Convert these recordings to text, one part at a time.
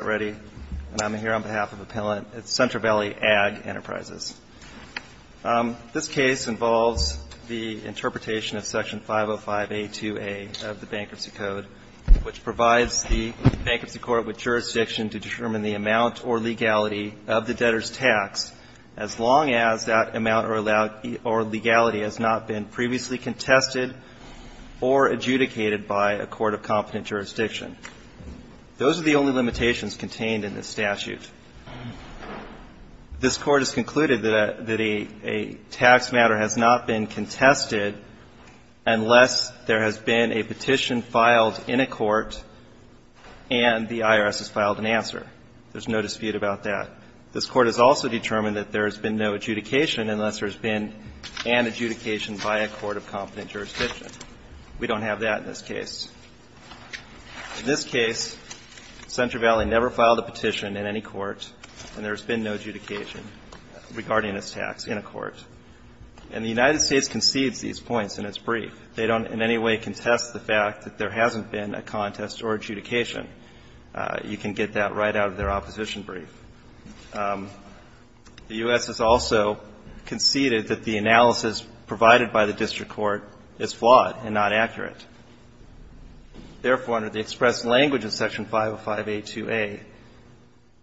I'm here on behalf of a panel at Central Valley Ag Enterprises. This case involves the interpretation of Section 505A2A of the Bankruptcy Code, which provides the bankruptcy court with jurisdiction to determine the amount or legality of the debtor's tax, as long as that amount or legality has not been previously contested or adjudicated by a court of competent jurisdiction. Those are the only limitations contained in this statute. This Court has concluded that a tax matter has not been contested unless there has been a petition filed in a court and the IRS has filed an answer. There's no dispute about that. This Court has also determined that there has been no adjudication unless there has been an adjudication by a court of competent jurisdiction. In this case, Central Valley never filed a petition in any court, and there's been no adjudication regarding this tax in a court. And the United States concedes these points in its brief. They don't in any way contest the fact that there hasn't been a contest or adjudication. You can get that right out of their opposition brief. The U.S. has also conceded that the analysis provided by the district court is flawed and not accurate. In the U.S. language of Section 505A2A,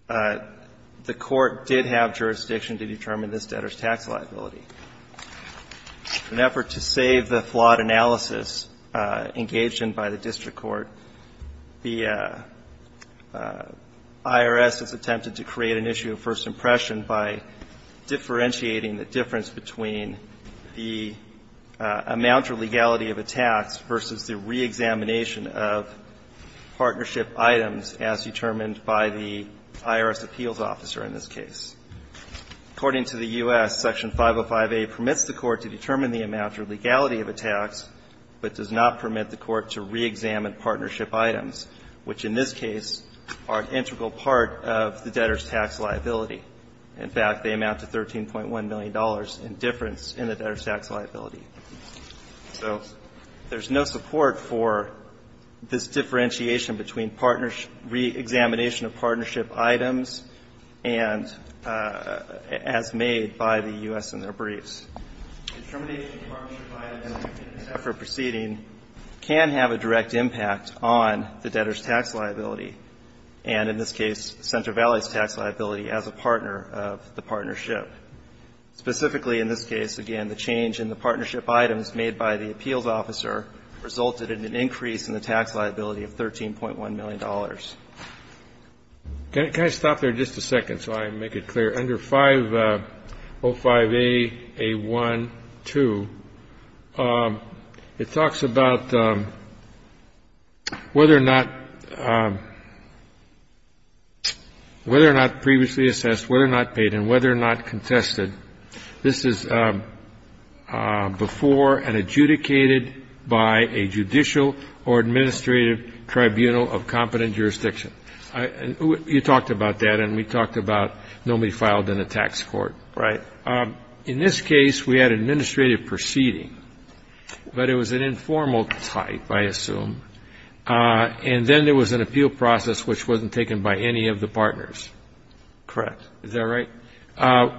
the Court did have jurisdiction to determine this debtor's tax liability. In an effort to save the flawed analysis engaged in by the district court, the IRS has attempted to create an issue of first impression by differentiating the difference between the amount or legality of a tax versus the reexamination of the amount or legality of partnership items as determined by the IRS appeals officer in this case. According to the U.S., Section 505A permits the court to determine the amount or legality of a tax, but does not permit the court to reexamine partnership items, which in this case are an integral part of the debtor's tax liability. In fact, they amount to $13.1 million in difference in the debtor's tax liability. So there's no support for this differentiation between partners reexamination of partnership items and as made by the U.S. in their briefs. Determination of partnership items in an effort proceeding can have a direct impact on the debtor's tax liability, and in this case, Center Valley's tax liability as a partner of the partnership. Specifically, in this case, again, the change in the partnership items made by the appeals officer resulted in an increase in the tax liability of $13.1 million. Can I stop there just a second so I make it clear? Under 505Aa1-2, it talks about whether or not previously assessed, whether or not paid, and whether or not contested, this is before and adjudicated by a judicial or administrative tribunal of competent jurisdiction. You talked about that, and we talked about nobody filed in a tax court. Right. In this case, we had an administrative proceeding, but it was an informal type, I assume, and then there was an appeal process which wasn't taken by any of the partners. Correct. Is that right?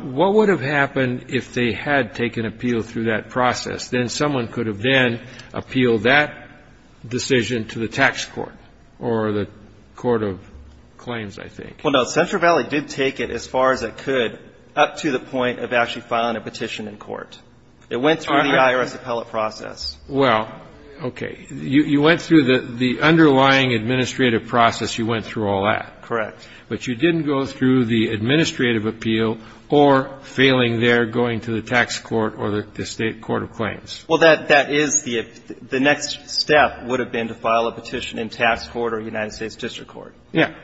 What would have happened if they had taken appeal through that process? Then someone could have then appealed that decision to the tax court or the court of claims, I think. Well, no. Center Valley did take it as far as it could up to the point of actually filing a petition in court. It went through the IRS appellate process. Well, okay. You went through the underlying administrative process. You went through all that. Correct. But you didn't go through the administrative appeal or failing there, going to the tax court or the state court of claims. Well, that is the next step would have been to file a petition in tax court or United States district court. Yeah.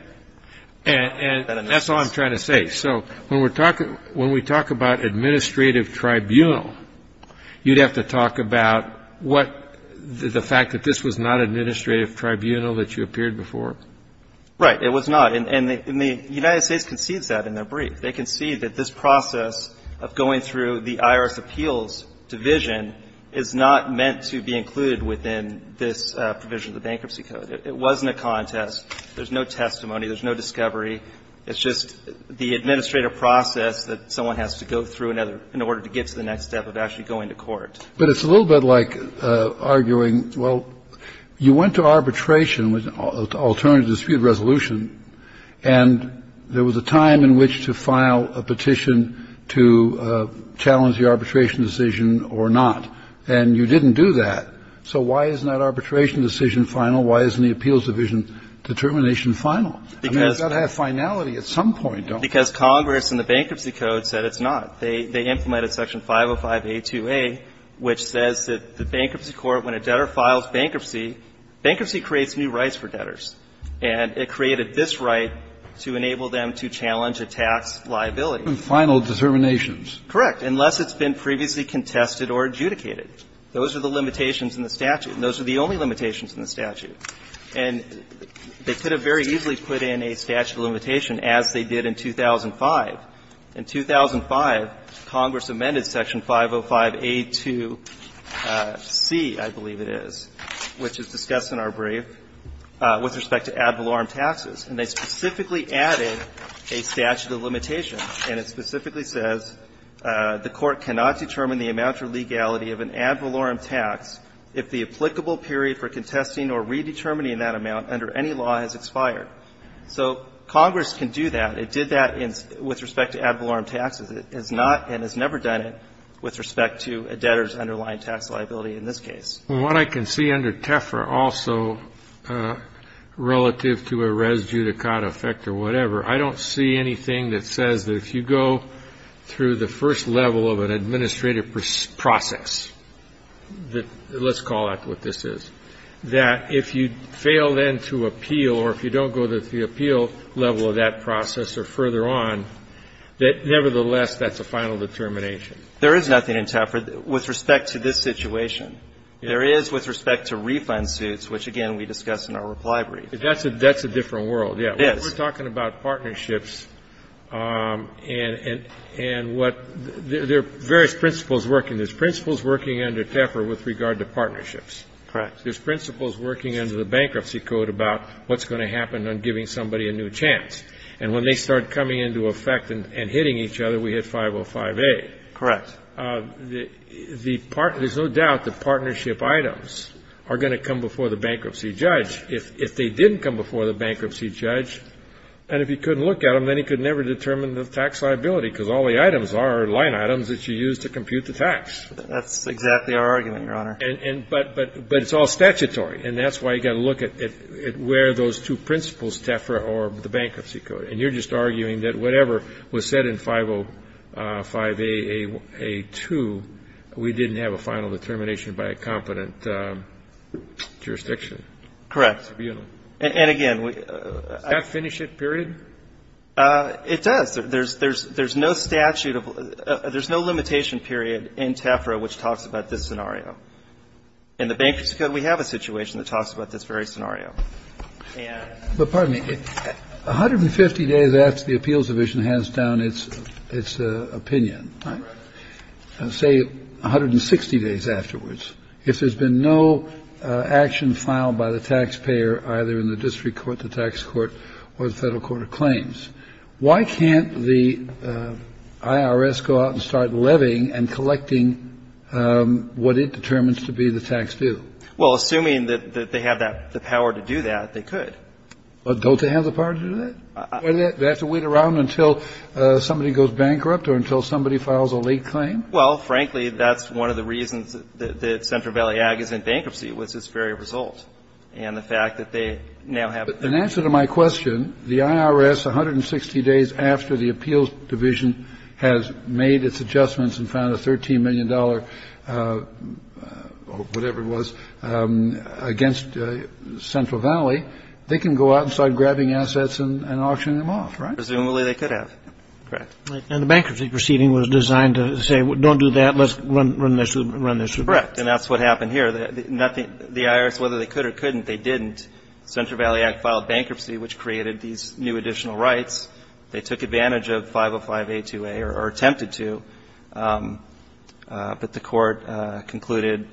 And that's all I'm trying to say. So when we talk about administrative tribunal, you'd have to talk about what the fact that this was not administrative tribunal that you appeared before. Right. It was not. And the United States concedes that in their brief. They concede that this process of going through the IRS appeals division is not meant to be included within this provision of the Bankruptcy Code. It wasn't a contest. There's no testimony. There's no discovery. It's just the administrative process that someone has to go through in order to get to the next step of actually going to court. But it's a little bit like arguing, well, you went to arbitration with alternative dispute resolution, and there was a time in which to file a petition to challenge the arbitration decision or not. And you didn't do that. So why isn't that arbitration decision final? Why isn't the appeals division determination final? I mean, it's got to have finality at some point, don't you think? Because Congress in the Bankruptcy Code said it's not. They implemented section 505A2A, which says that the bankruptcy court, when a debtor files bankruptcy, bankruptcy creates new rights for debtors. And it created this right to enable them to challenge a tax liability. And final determinations. Correct, unless it's been previously contested or adjudicated. Those are the limitations in the statute. And those are the only limitations in the statute. And they could have very easily put in a statute of limitation, as they did in 2005. In 2005, Congress amended section 505A2C, I believe it is, which is discussed in our brief, with respect to ad valorem taxes. And they specifically added a statute of limitation. And it specifically says, the court cannot determine the amount or legality of an ad valorem tax if the applicable period for contesting or redetermining that amount under any law has expired. So Congress can do that. It did that with respect to ad valorem taxes. It has not and has never done it with respect to a debtor's underlying tax liability in this case. Well, what I can see under TEFRA also, relative to a res judicata effect or whatever, I don't see anything that says that if you go through the first level of an administrative process, let's call that what this is, that if you fail then to appeal or if you don't go to the appeal level of that process or further on, that nevertheless, that's a final determination. There is nothing in TEFRA with respect to this situation. There is with respect to refund suits, which, again, we discussed in our reply brief. That's a different world. Yes. We're talking about partnerships and what there are various principles working. There's principles working under TEFRA with regard to partnerships. Correct. There's principles working under the Bankruptcy Code about what's going to happen on giving somebody a new chance. And when they start coming into effect and hitting each other, we hit 505A. Correct. There's no doubt that partnership items are going to come before the bankruptcy judge. If they didn't come before the bankruptcy judge, and if he couldn't look at them, then he could never determine the tax liability because all the items are line items that you use to compute the tax. That's exactly our argument, Your Honor. But it's all statutory, and that's why you've got to look at where those two principles, TEFRA or the Bankruptcy Code. And you're just arguing that whatever was said in 505A.A.2, we didn't have a final determination by a competent jurisdiction. Correct. And, again, we — Does that finish it, period? It does. There's no statute of — there's no limitation period in TEFRA which talks about this scenario. In the Bankruptcy Code, we have a situation that talks about this very scenario. But, pardon me, 150 days after the appeals division has down its opinion, say 160 days if there's been no action filed by the taxpayer either in the district court, the tax court, or the Federal Court of Claims. Why can't the IRS go out and start levying and collecting what it determines to be the tax due? Well, assuming that they have the power to do that, they could. Don't they have the power to do that? Do they have to wait around until somebody goes bankrupt or until somebody files a late claim? Well, frankly, that's one of the reasons that Central Valley Ag is in bankruptcy, which is its very result. And the fact that they now have — In answer to my question, the IRS, 160 days after the appeals division has made its adjustments and found a $13 million, whatever it was, against Central Valley, they can go out and start grabbing assets and auctioning them off. Right. Presumably they could have. Correct. And the bankruptcy proceeding was designed to say, don't do that. Let's run this through the courts. Correct. And that's what happened here. The IRS, whether they could or couldn't, they didn't. Central Valley Act filed bankruptcy, which created these new additional rights. They took advantage of 505A2A or attempted to. But the Court concluded,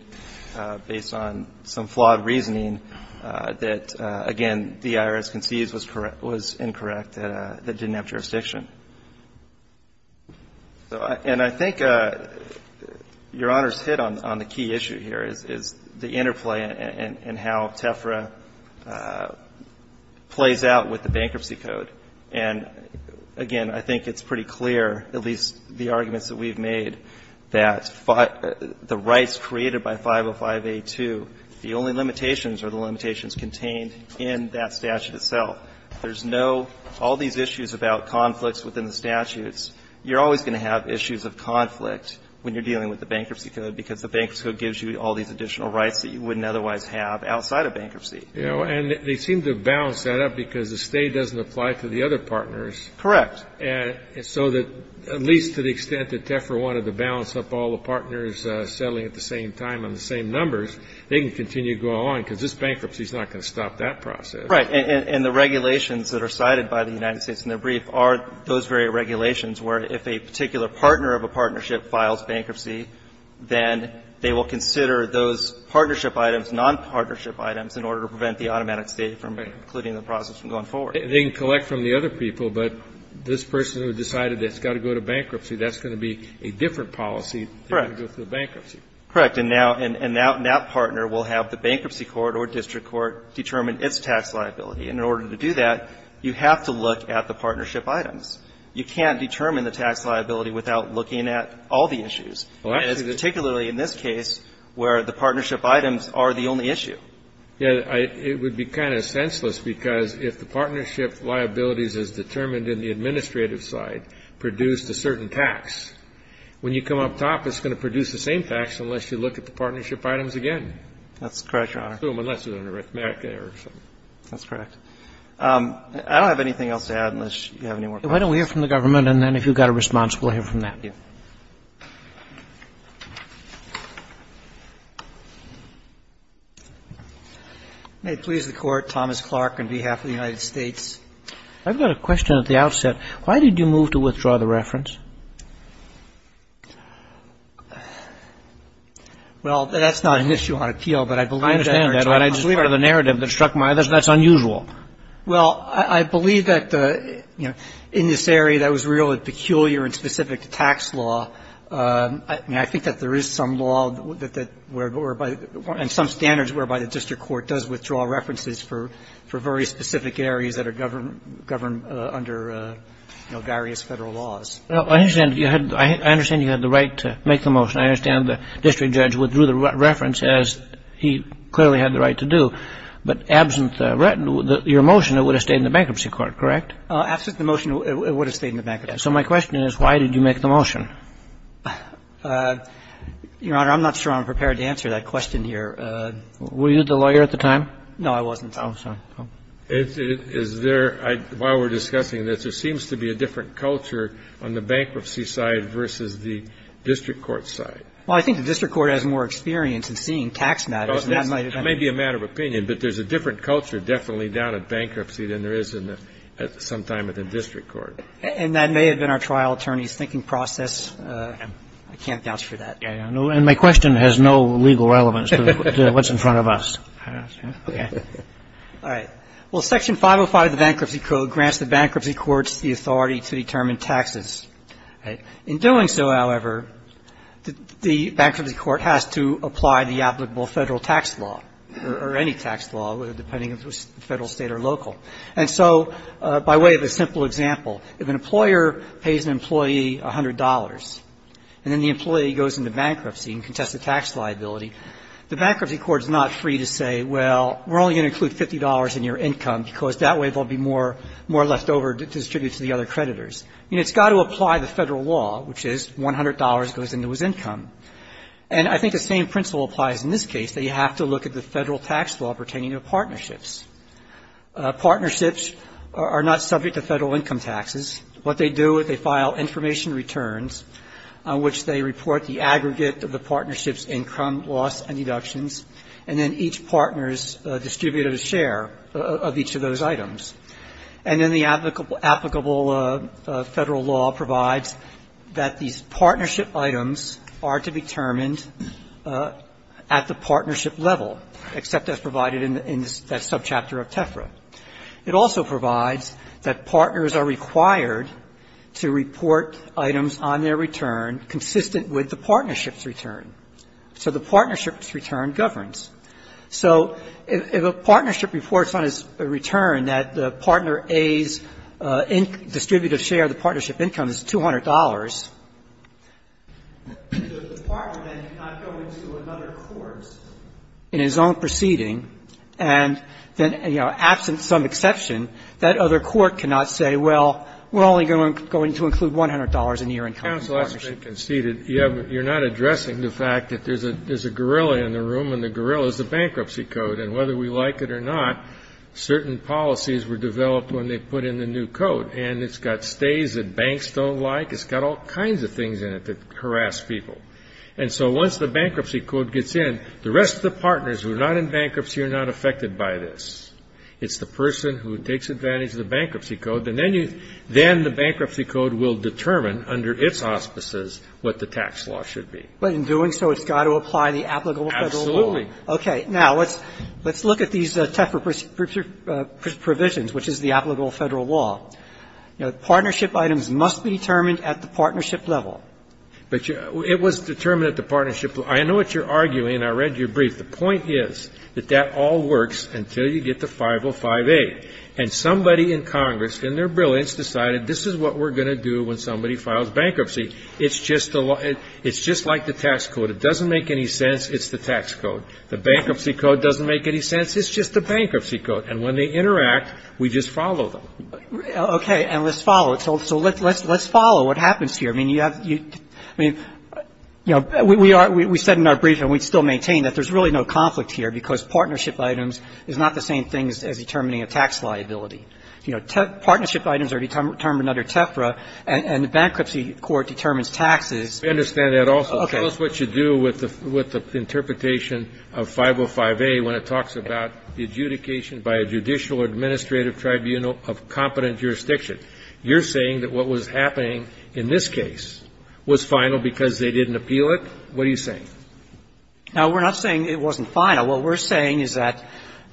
based on some flawed reasoning, that, again, the IRS concedes was incorrect, that it didn't have jurisdiction. And I think Your Honor's hit on the key issue here is the interplay and how TEFRA plays out with the bankruptcy code. And, again, I think it's pretty clear, at least the arguments that we've made, that the rights created by 505A2, the only limitations are the limitations contained in that statute itself. There's no all these issues about conflicts within the statutes. You're always going to have issues of conflict when you're dealing with the bankruptcy code, because the bankruptcy code gives you all these additional rights that you wouldn't otherwise have outside of bankruptcy. And they seem to balance that out because the stay doesn't apply to the other partners. Correct. So that at least to the extent that TEFRA wanted to balance up all the partners settling at the same time on the same numbers, they can continue to go along, because this bankruptcy is not going to stop that process. Right. And the regulations that are cited by the United States in the brief are those very regulations where if a particular partner of a partnership files bankruptcy, then they will consider those partnership items, nonpartnership items, in order to prevent the automatic stay from including the process from going forward. They can collect from the other people, but this person who decided that it's got to go to bankruptcy, that's going to be a different policy. Correct. They're going to go through bankruptcy. Correct. And now that partner will have the bankruptcy court or district court determine its tax liability. And in order to do that, you have to look at the partnership items. You can't determine the tax liability without looking at all the issues, particularly in this case where the partnership items are the only issue. Yeah. It would be kind of senseless, because if the partnership liabilities as determined in the administrative side produced a certain tax, when you come up top, it's going to produce the same tax unless you look at the partnership items again. That's correct, Your Honor. Unless there's an arithmetic error or something. That's correct. I don't have anything else to add unless you have any more questions. Why don't we hear from the government, and then if you've got a response, we'll hear from that. Thank you. May it please the Court, Thomas Clark on behalf of the United States. I've got a question at the outset. Why did you move to withdraw the reference? Well, that's not an issue on appeal, but I believe that's unusual. Well, I believe that, you know, in this area that was really peculiar and specific to tax law, I think that there is some law that whereby, and some standards whereby the district court does withdraw references for very specific areas that are governed under various Federal laws. I understand you had the right to make the motion. I understand the district judge withdrew the reference, as he clearly had the right to do. But absent your motion, it would have stayed in the bankruptcy court, correct? Absent the motion, it would have stayed in the bankruptcy court. So my question is, why did you make the motion? Your Honor, I'm not sure I'm prepared to answer that question here. Were you the lawyer at the time? No, I wasn't. Oh, sorry. Is there, while we're discussing this, there seems to be a different culture on the bankruptcy side versus the district court side. Well, I think the district court has more experience in seeing tax matters. It may be a matter of opinion, but there's a different culture definitely down at bankruptcy than there is sometime at the district court. And that may have been our trial attorney's thinking process. I can't vouch for that. And my question has no legal relevance to what's in front of us. Okay. All right. Well, Section 505 of the Bankruptcy Code grants the bankruptcy courts the authority to determine taxes. In doing so, however, the bankruptcy court has to apply the applicable Federal tax law or any tax law, depending on whether it's Federal, State or local. And so by way of a simple example, if an employer pays an employee $100 and then the employee goes into bankruptcy and contests the tax liability, the bankruptcy court is not free to say, well, we're only going to include $50 in your income because that way there will be more left over to distribute to the other creditors. It's got to apply the Federal law, which is $100 goes into his income. And I think the same principle applies in this case, that you have to look at the Federal tax law pertaining to partnerships. Partnerships are not subject to Federal income taxes. What they do is they file information returns on which they report the aggregate of the partnership's income, loss and deductions. And then each partner is distributed a share of each of those items. And then the applicable Federal law provides that these partnership items are to be determined at the partnership level, except as provided in that subchapter of TEFRA. It also provides that partners are required to report items on their return consistent with the partnership's return. So the partnership's return governs. So if a partnership reports on its return that the partner A's distributive share of the partnership income is $200, the partner then cannot go into another court in his own proceeding, and then, you know, absent some exception, that other court cannot say, well, we're only going to include $100 in the income of the partnership. Breyer. You're not addressing the fact that there's a gorilla in the room, and the gorilla is the Bankruptcy Code, and whether we like it or not, certain policies were developed when they put in the new code, and it's got stays that banks don't like. It's got all kinds of things in it that harass people. And so once the Bankruptcy Code gets in, the rest of the partners who are not in bankruptcy are not affected by this. It's the person who takes advantage of the Bankruptcy Code, and then you then the Bankruptcy Code will determine under its auspices what the tax law should be. But in doing so, it's got to apply the applicable Federal law. Absolutely. Okay. Now, let's look at these TEFRA provisions, which is the applicable Federal law. You know, partnership items must be determined at the partnership level. But it was determined at the partnership level. I know what you're arguing, and I read your brief. The point is that that all works until you get to 5058, and somebody in Congress in their brilliance decided this is what we're going to do when somebody files bankruptcy. It's just like the tax code. It doesn't make any sense. It's the tax code. The Bankruptcy Code doesn't make any sense. It's just the Bankruptcy Code. And when they interact, we just follow them. Okay. And let's follow it. So let's follow what happens here. I mean, you have to be, I mean, you know, we are, we said in our brief, and we still maintain, that there's really no conflict here, because partnership items is not the same thing as determining a tax liability. You know, partnership items are determined under TEFRA, and the Bankruptcy Court determines taxes. I understand that also. Okay. Tell us what you do with the interpretation of 505A when it talks about the adjudication by a judicial or administrative tribunal of competent jurisdiction. You're saying that what was happening in this case was final because they didn't appeal it? What are you saying? Now, we're not saying it wasn't final. What we're saying is that,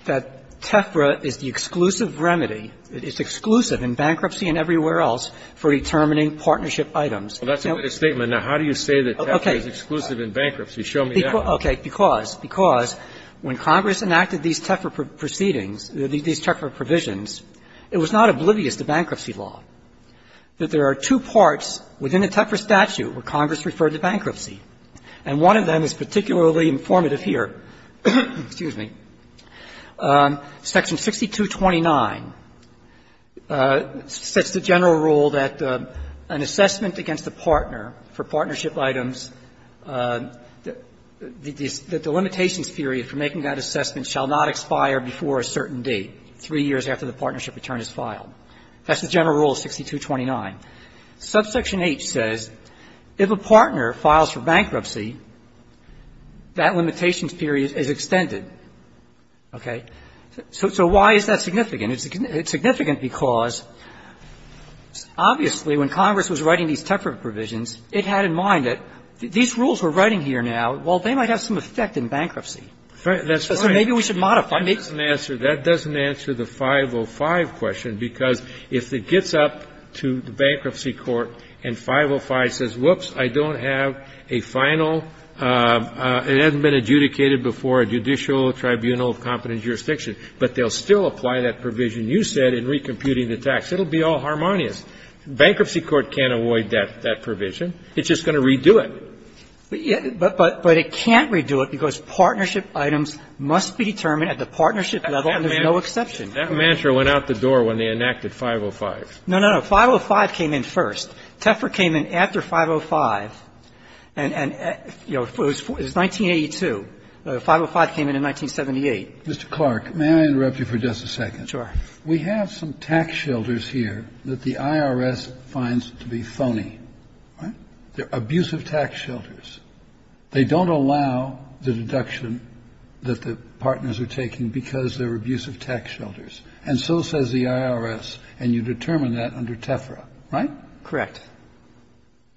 that TEFRA is the exclusive remedy, it's exclusive in bankruptcy and everywhere else for determining partnership items. Well, that's a good statement. Now, how do you say that TEFRA is exclusive in bankruptcy? Show me that. Okay. Because, because when Congress enacted these TEFRA proceedings, these TEFRA provisions, it was not oblivious to bankruptcy law that there are two parts within the TEFRA statute where Congress referred to bankruptcy. And one of them is particularly informative here. Excuse me. Section 6229 sets the general rule that an assessment against a partner for partnership items, the delimitations period for making that assessment shall not expire before a certain date, three years after the partnership return is filed. That's the general rule of 6229. Subsection H says, if a partner files for bankruptcy, that limitations period is extended. Okay? So why is that significant? It's significant because, obviously, when Congress was writing these TEFRA provisions, it had in mind that these rules we're writing here now, well, they might have some effect in bankruptcy. That's right. So maybe we should modify it. If I make some answers, that doesn't answer the 505 question, because if it gets up to the bankruptcy court and 505 says, whoops, I don't have a final, it hasn't been adjudicated before a judicial tribunal of competent jurisdiction, but they'll still apply that provision you said in recomputing the tax. It will be all harmonious. Bankruptcy court can't avoid that provision. It's just going to redo it. But it can't redo it because partnership items must be determined at the partnership level, and there's no exception. That mantra went out the door when they enacted 505. No, no, no. 505 came in first. TEFRA came in after 505. And, you know, it was 1982. 505 came in in 1978. Mr. Clark, may I interrupt you for just a second? Sure. We have some tax shelters here that the IRS finds to be phony. Right? They're abusive tax shelters. They don't allow the deduction that the partners are taking because they're abusive tax shelters. And so says the IRS, and you determine that under TEFRA, right? Correct.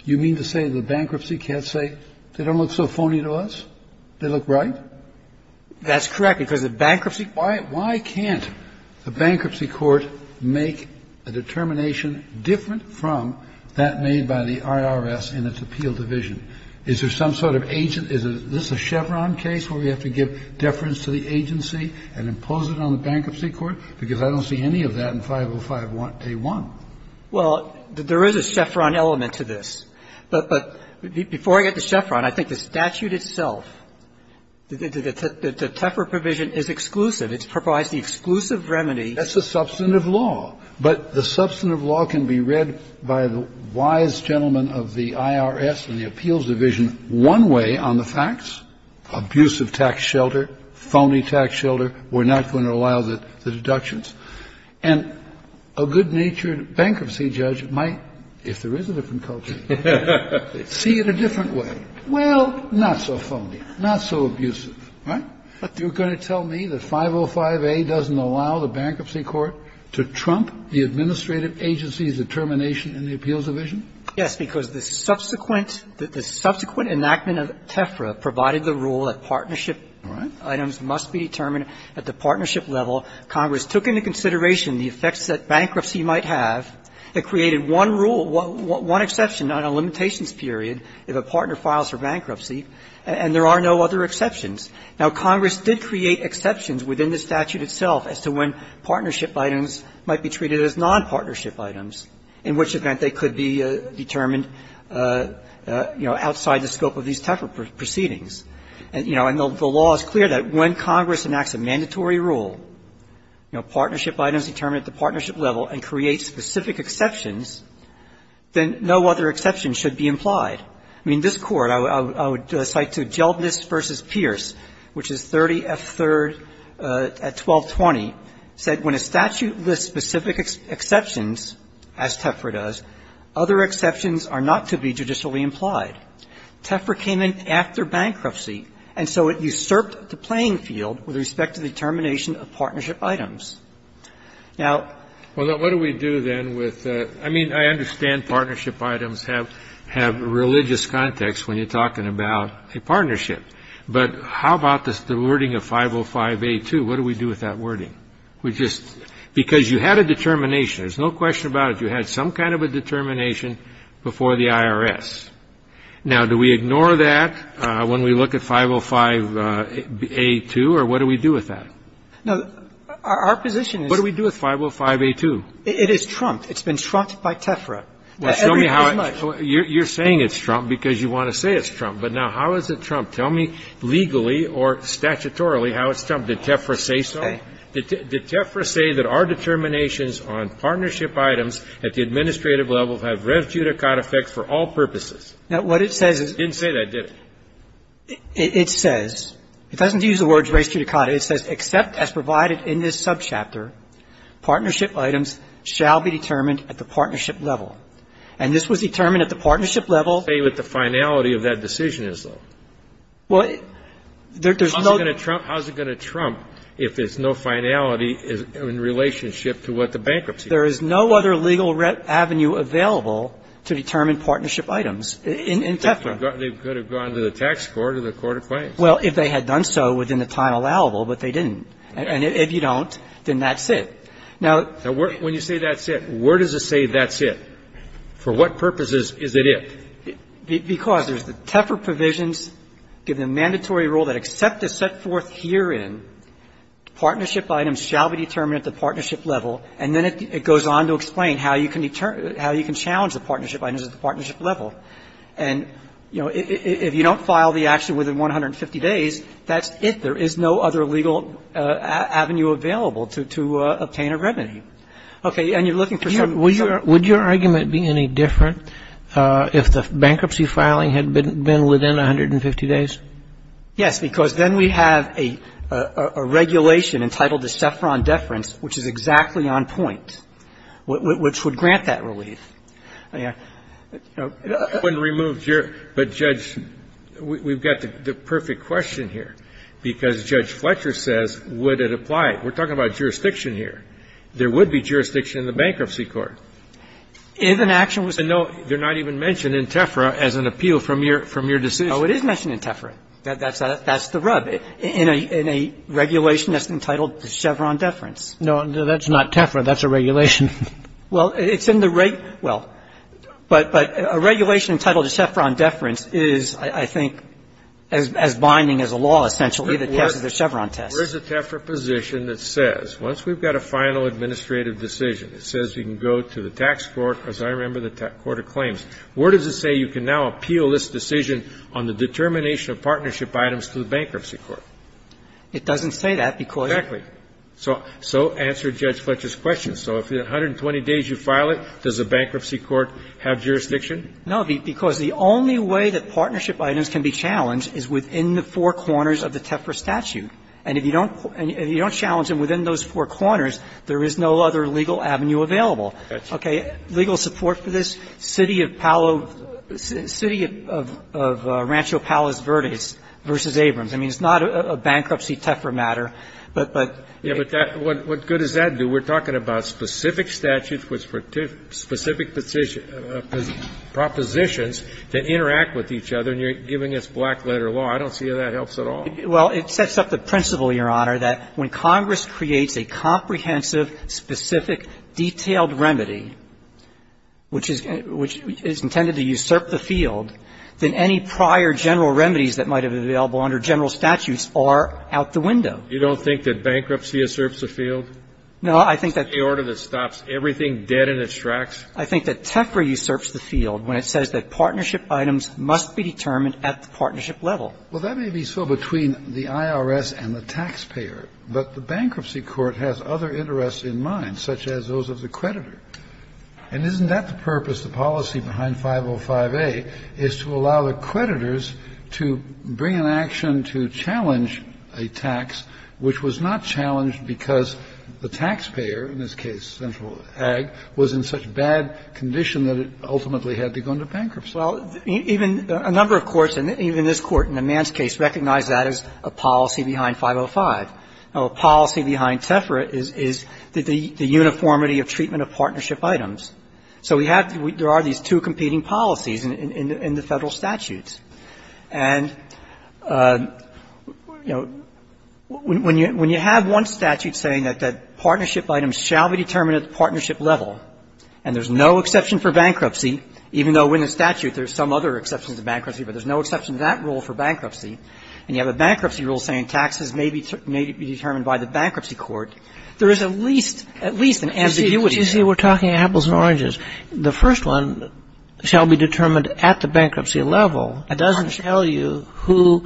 You mean to say the bankruptcy can't say they don't look so phony to us? They look right? That's correct, because the bankruptcy can't. I don't see any of that in 505-A-1. Well, there is a chevron element to this. But before I get to chevron, I think the statute itself, the TEFRA provision is exclusive. It provides the exclusive remedy. That's the substantive law. Well, I'm going to ask the first gentleman of the IRS and the appeals division one way on the facts, abusive tax shelter, phony tax shelter, we're not going to allow the deductions. And a good-natured bankruptcy judge might, if there is a different culture, see it a different way. Well, not so phony, not so abusive, right? You're going to tell me that 505-A doesn't allow the bankruptcy court to trump the Yes, because the subsequent, the subsequent enactment of TEFRA provided the rule that partnership items must be determined at the partnership level. Congress took into consideration the effects that bankruptcy might have. It created one rule, one exception on a limitations period if a partner files for bankruptcy, and there are no other exceptions. Now, Congress did create exceptions within the statute itself as to when partnership items might be treated as non-partnership items, in which event they could be determined, you know, outside the scope of these TEFRA proceedings. And, you know, the law is clear that when Congress enacts a mandatory rule, you know, partnership items determined at the partnership level and creates specific exceptions, then no other exception should be implied. I mean, this Court, I would cite to Gelbnis v. Pierce, which is 30F3rd at 1220, said when a statute lists specific exceptions, as TEFRA does, other exceptions are not to be judicially implied. TEFRA came in after bankruptcy, and so it usurped the playing field with respect to the determination of partnership items. Now What do we do then with the – I mean, I understand partnership items have religious context when you're talking about a partnership, but how about the wording of 505-A2? What do we do with that wording? We just – because you had a determination. There's no question about it. You had some kind of a determination before the IRS. Now, do we ignore that when we look at 505-A2, or what do we do with that? Now, our position is – What do we do with 505-A2? It is trumped. It's been trumped by TEFRA. Well, show me how – you're saying it's trumped because you want to say it's trumped. But now how is it trumped? Tell me legally or statutorily how it's trumped. Did TEFRA say so? Okay. Did TEFRA say that our determinations on partnership items at the administrative level have res judicata effect for all purposes? Now, what it says is – It didn't say that, did it? It says – it doesn't use the words res judicata. It says, except as provided in this subchapter, partnership items shall be determined at the partnership level. And this was determined at the partnership level – Tell me what the finality of that decision is, though. Well, there's no – How is it going to trump if there's no finality in relationship to what the bankruptcy is? There is no other legal avenue available to determine partnership items in TEFRA. They could have gone to the tax court or the court of claims. Well, if they had done so within the time allowable, but they didn't. And if you don't, then that's it. Now – Now, when you say that's it, where does it say that's it? For what purposes is it it? Because there's the TEFRA provisions give them mandatory rule that except as set forth herein, partnership items shall be determined at the partnership level, and then it goes on to explain how you can determine – how you can challenge the partnership items at the partnership level. And, you know, if you don't file the action within 150 days, that's it. There is no other legal avenue available to obtain a remedy. Okay. And you're looking for some – Would your argument be any different if the bankruptcy filing had been within 150 days? Yes, because then we have a regulation entitled the Saffron Deference, which is exactly on point, which would grant that relief. I wouldn't remove – but, Judge, we've got the perfect question here, because, Judge Fletcher says, would it apply? We're talking about jurisdiction here. There would be jurisdiction in the Bankruptcy Court. If an action was to – And, no, they're not even mentioned in TEFRA as an appeal from your decision. Oh, it is mentioned in TEFRA. That's the rub. In a regulation that's entitled the Saffron Deference. No, that's not TEFRA. That's a regulation. Well, it's in the rate – well, but a regulation entitled the Saffron Deference is, I think, as binding as a law, essentially, that passes the Saffron test. Where is the TEFRA position that says, once we've got a final administrative decision, it says we can go to the tax court, as I remember the court of claims. Where does it say you can now appeal this decision on the determination of partnership items to the Bankruptcy Court? It doesn't say that, because – Exactly. So answer Judge Fletcher's question. So if in 120 days you file it, does the Bankruptcy Court have jurisdiction? No, because the only way that partnership items can be challenged is within the four corners of the TEFRA statute. And if you don't – if you don't challenge them within those four corners, there is no other legal avenue available. Okay. Legal support for this, city of Palo – city of Rancho Palos Verdes v. Abrams. I mean, it's not a bankruptcy TEFRA matter, but – Yeah, but that – what good does that do? We're talking about specific statutes with specific positions – propositions that interact with each other, and you're giving us black-letter law. I don't see how that helps at all. Well, it sets up the principle, Your Honor, that when Congress creates a comprehensive, specific, detailed remedy, which is intended to usurp the field, then any prior general remedies that might have been available under general statutes are out the window. You don't think that bankruptcy usurps the field? No, I think that – It's the order that stops everything dead in its tracks? I think that TEFRA usurps the field when it says that partnership items must be determined at the partnership level. Well, that may be so between the IRS and the taxpayer, but the bankruptcy court has other interests in mind, such as those of the creditor. And isn't that the purpose, the policy behind 505A, is to allow the creditors to bring an action to challenge a tax which was not challenged because the taxpayer, in this case Central Ag, was in such bad condition that it ultimately had to go into bankruptcy? Well, even a number of courts, and even this Court in the Mann's case, recognized that as a policy behind 505. A policy behind TEFRA is the uniformity of treatment of partnership items. So we have to – there are these two competing policies in the Federal statutes. And, you know, when you have one statute saying that partnership items shall be determined at the partnership level, and there's no exception for bankruptcy, even though in the statute there's some other exception to bankruptcy, but there's no exception to that rule for bankruptcy, and you have a bankruptcy rule saying taxes may be determined by the bankruptcy court, there is at least an ambiguity. You see, we're talking apples and oranges. The first one shall be determined at the bankruptcy level. It doesn't tell you who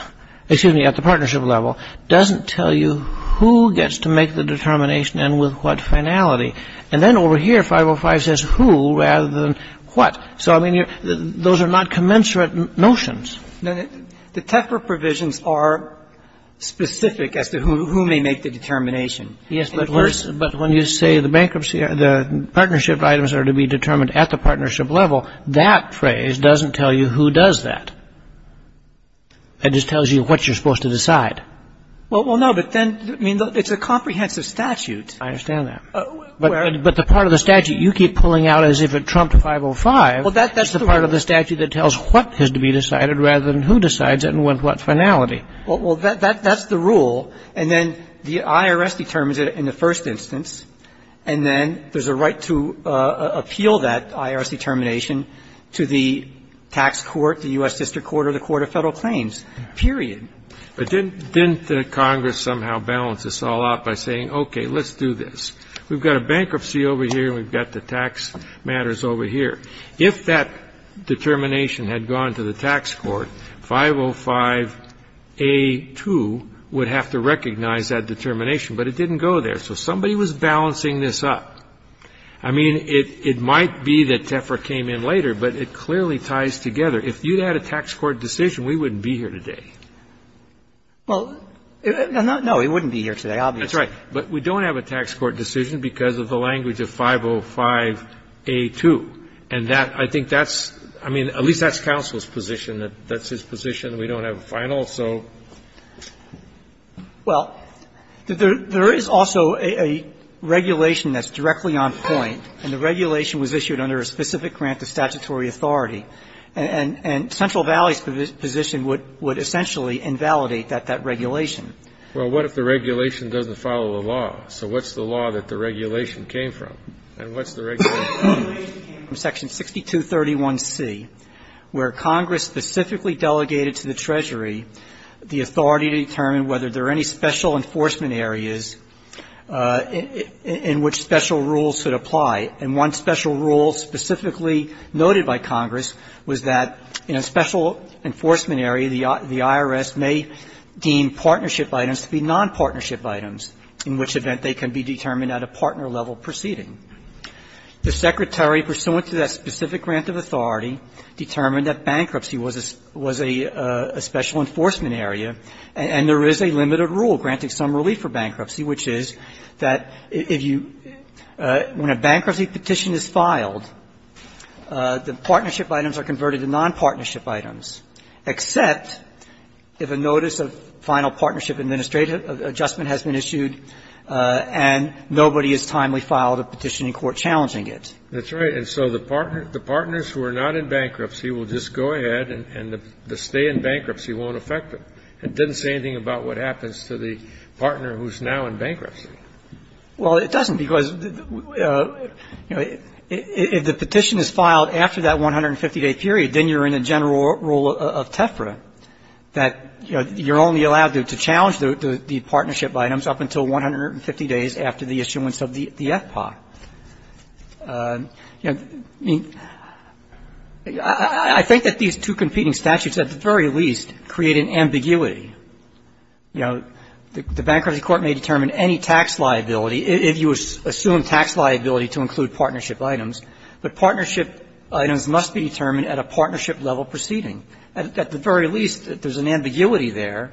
– excuse me, at the partnership level. It doesn't tell you who gets to make the determination and with what finality. And then over here, 505 says who rather than what. So, I mean, those are not commensurate notions. The TEFRA provisions are specific as to who may make the determination. Yes, but when you say the bankruptcy – the partnership items are to be determined at the partnership level, that phrase doesn't tell you who does that. It just tells you what you're supposed to decide. Well, no, but then – I mean, it's a comprehensive statute. I understand that. But the part of the statute you keep pulling out as if it trumped 505 is the part of the statute that tells what has to be decided rather than who decides it and with what finality. Well, that's the rule. And then the IRS determines it in the first instance. And then there's a right to appeal that IRS determination to the tax court, the U.S. District Court, or the Court of Federal Claims, period. But didn't Congress somehow balance this all out by saying, okay, let's do this. We've got a bankruptcy over here and we've got the tax matters over here. If that determination had gone to the tax court, 505A2 would have to recognize that determination, but it didn't go there. So somebody was balancing this up. I mean, it might be that TEFRA came in later, but it clearly ties together. If you had a tax court decision, we wouldn't be here today. Well, no, we wouldn't be here today, obviously. That's right. But we don't have a tax court decision because of the language of 505A2. And that, I think that's, I mean, at least that's counsel's position. That's his position. We don't have a final, so. Well, there is also a regulation that's directly on point. And the regulation was issued under a specific grant to statutory authority. And Central Valley's position would essentially invalidate that regulation. Well, what if the regulation doesn't follow the law? So what's the law that the regulation came from? And what's the regulation? The regulation came from section 6231C, where Congress specifically delegated to the Treasury the authority to determine whether there are any special enforcement areas in which special rules should apply. And one special rule specifically noted by Congress was that in a special enforcement area, the IRS may deem partnership items to be nonpartnership items, in which event they can be determined at a partner level proceeding. The Secretary, pursuant to that specific grant of authority, determined that bankruptcy was a special enforcement area, and there is a limited rule granting some relief for bankruptcy, which is that if you, when a bankruptcy petition is filed, the partnership items are converted to nonpartnership items, except if a notice of final partnership adjustment has been issued and nobody has timely filed a petition in court challenging it. That's right. And so the partners who are not in bankruptcy will just go ahead and the stay in bankruptcy won't affect them. It doesn't say anything about what happens to the partner who's now in bankruptcy. Well, it doesn't, because, you know, if the petition is filed after that 150-day period, then you're in a general rule of TEFRA that you're only allowed to challenge the partnership items up until 150 days after the issuance of the FPA. You know, I mean, I think that these two competing statutes at the very least create an ambiguity. You know, the bankruptcy court may determine any tax liability, if you assume tax liability to include partnership items, but partnership items must be determined at a partnership level proceeding. At the very least, there's an ambiguity there.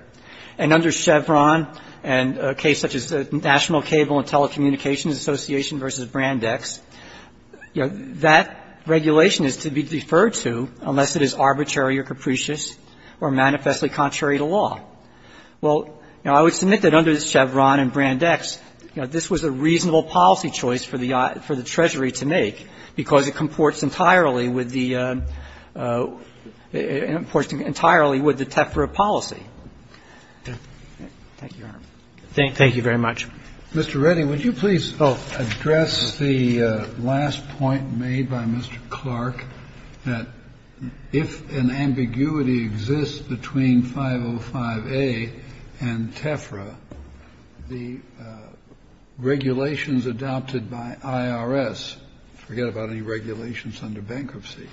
And under Chevron and a case such as National Cable and Telecommunications Association v. Brandex, you know, that regulation is to be deferred to unless it is arbitrary or capricious or manifestly contrary to law. Well, you know, I would submit that under Chevron and Brandex, you know, this was a reasonable policy choice for the Treasury to make, because it comports entirely with the TEFRA policy. Thank you, Your Honor. Thank you very much. Mr. Reddy, would you please address the last point made by Mr. Clark, that if an ambiguity exists between 505A and TEFRA, the regulations adopted by IRS, forget about any regulations under bankruptcy,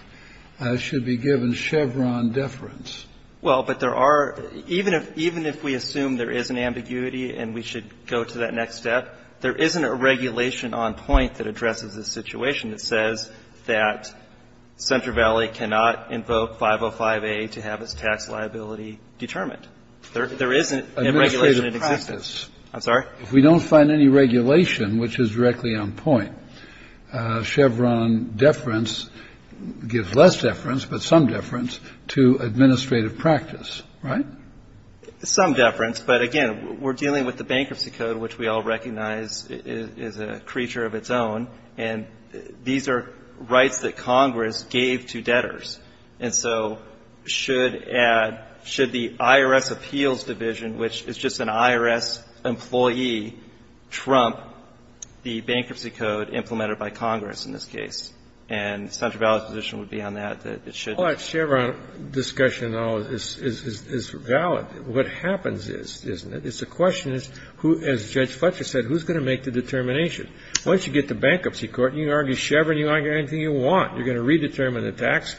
should be given Chevron deference? Well, but there are – even if we assume there is an ambiguity and we should go to that next step, there isn't a regulation on point that addresses this situation that says that Central Valley cannot invoke 505A to have its tax liability determined. There isn't a regulation that exists. Administrative practice. I'm sorry? If we don't find any regulation which is directly on point, Chevron deference gives less deference, but some deference, to administrative practice, right? Some deference. But again, we're dealing with the bankruptcy code, which we all recognize is a creature of its own, and these are rights that Congress gave to debtors. And so should add – should the IRS appeals division, which is just an IRS employee, trump the bankruptcy code implemented by Congress in this case? And Central Valley's position would be on that, that it shouldn't. Well, that Chevron discussion, though, is valid. What happens is – it's a question as Judge Fletcher said, who's going to make the determination? Once you get to bankruptcy court, you argue Chevron, you argue anything you want. You're going to redetermine the tax.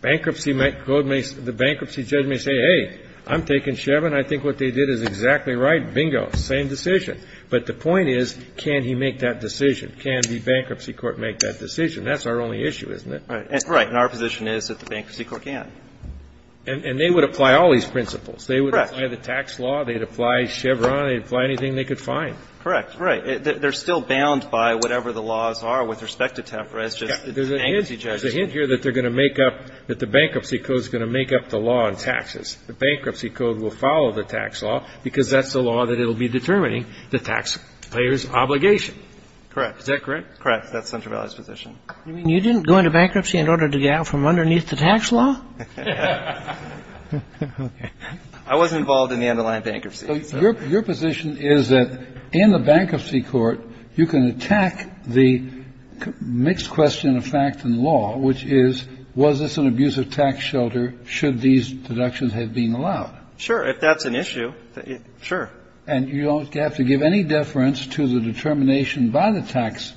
Bankruptcy – the bankruptcy judge may say, hey, I'm taking Chevron. I think what they did is exactly right. Bingo. Same decision. But the point is, can he make that decision? Can the bankruptcy court make that decision? That's our only issue, isn't it? Right. And our position is that the bankruptcy court can. And they would apply all these principles. Correct. They would apply the tax law. They'd apply Chevron. They'd apply anything they could find. Correct. Right. They're still bound by whatever the laws are with respect to Tefra. There's a hint here that they're going to make up – that the bankruptcy code is going to make up the law on taxes. The bankruptcy code will follow the tax law because that's the law that it will be determining, the taxpayer's obligation. Correct. Is that correct? Correct. That's Central Valley's position. You didn't go into bankruptcy in order to get out from underneath the tax law? I wasn't involved in the underlying bankruptcy. So your position is that in the bankruptcy court, you can attack the mixed question of fact and law, which is, was this an abusive tax shelter should these deductions have been allowed? Sure. If that's an issue, sure. And you don't have to give any deference to the determination by the tax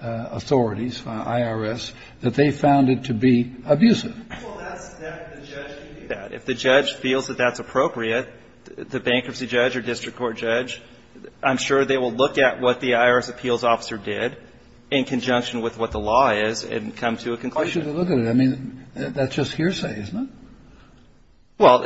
authorities, IRS, that they found it to be abusive? Well, that's – the judge can do that. If the judge feels that that's appropriate, the bankruptcy judge or district court judge, I'm sure they will look at what the IRS appeals officer did in conjunction with what the law is and come to a conclusion. Why should they look at it? I mean, that's just hearsay, isn't it? Well,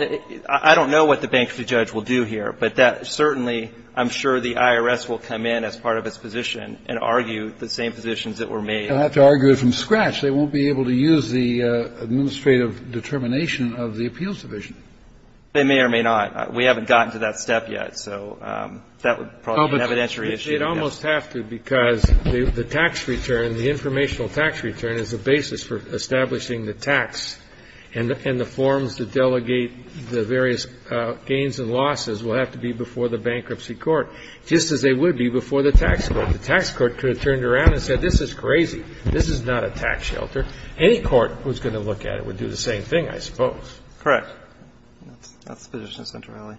I don't know what the bankruptcy judge will do here, but that – certainly, I'm sure the IRS will come in as part of its position and argue the same positions that were made. They'll have to argue it from scratch. They won't be able to use the administrative determination of the appeals division. They may or may not. We haven't gotten to that step yet. So that would probably be an evidentiary issue. Well, but they'd almost have to because the tax return, the informational tax return, is the basis for establishing the tax. And the forms that delegate the various gains and losses will have to be before the bankruptcy court, just as they would be before the tax court. The tax court could have turned around and said this is crazy. This is not a tax shelter. Any court who's going to look at it would do the same thing, I suppose. Correct. That's the position of Central Valley.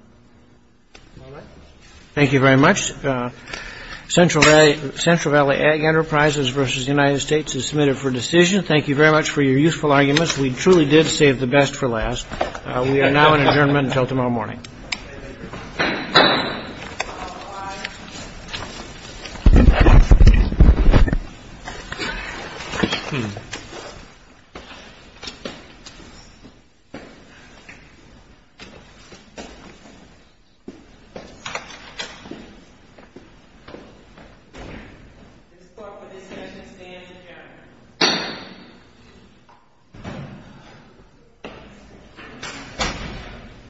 Thank you very much. Central Valley Ag Enterprises v. United States is submitted for decision. Thank you very much for your useful arguments. We truly did save the best for last. We are now in adjournment until tomorrow morning. Thank you. This court for this session stands adjourned.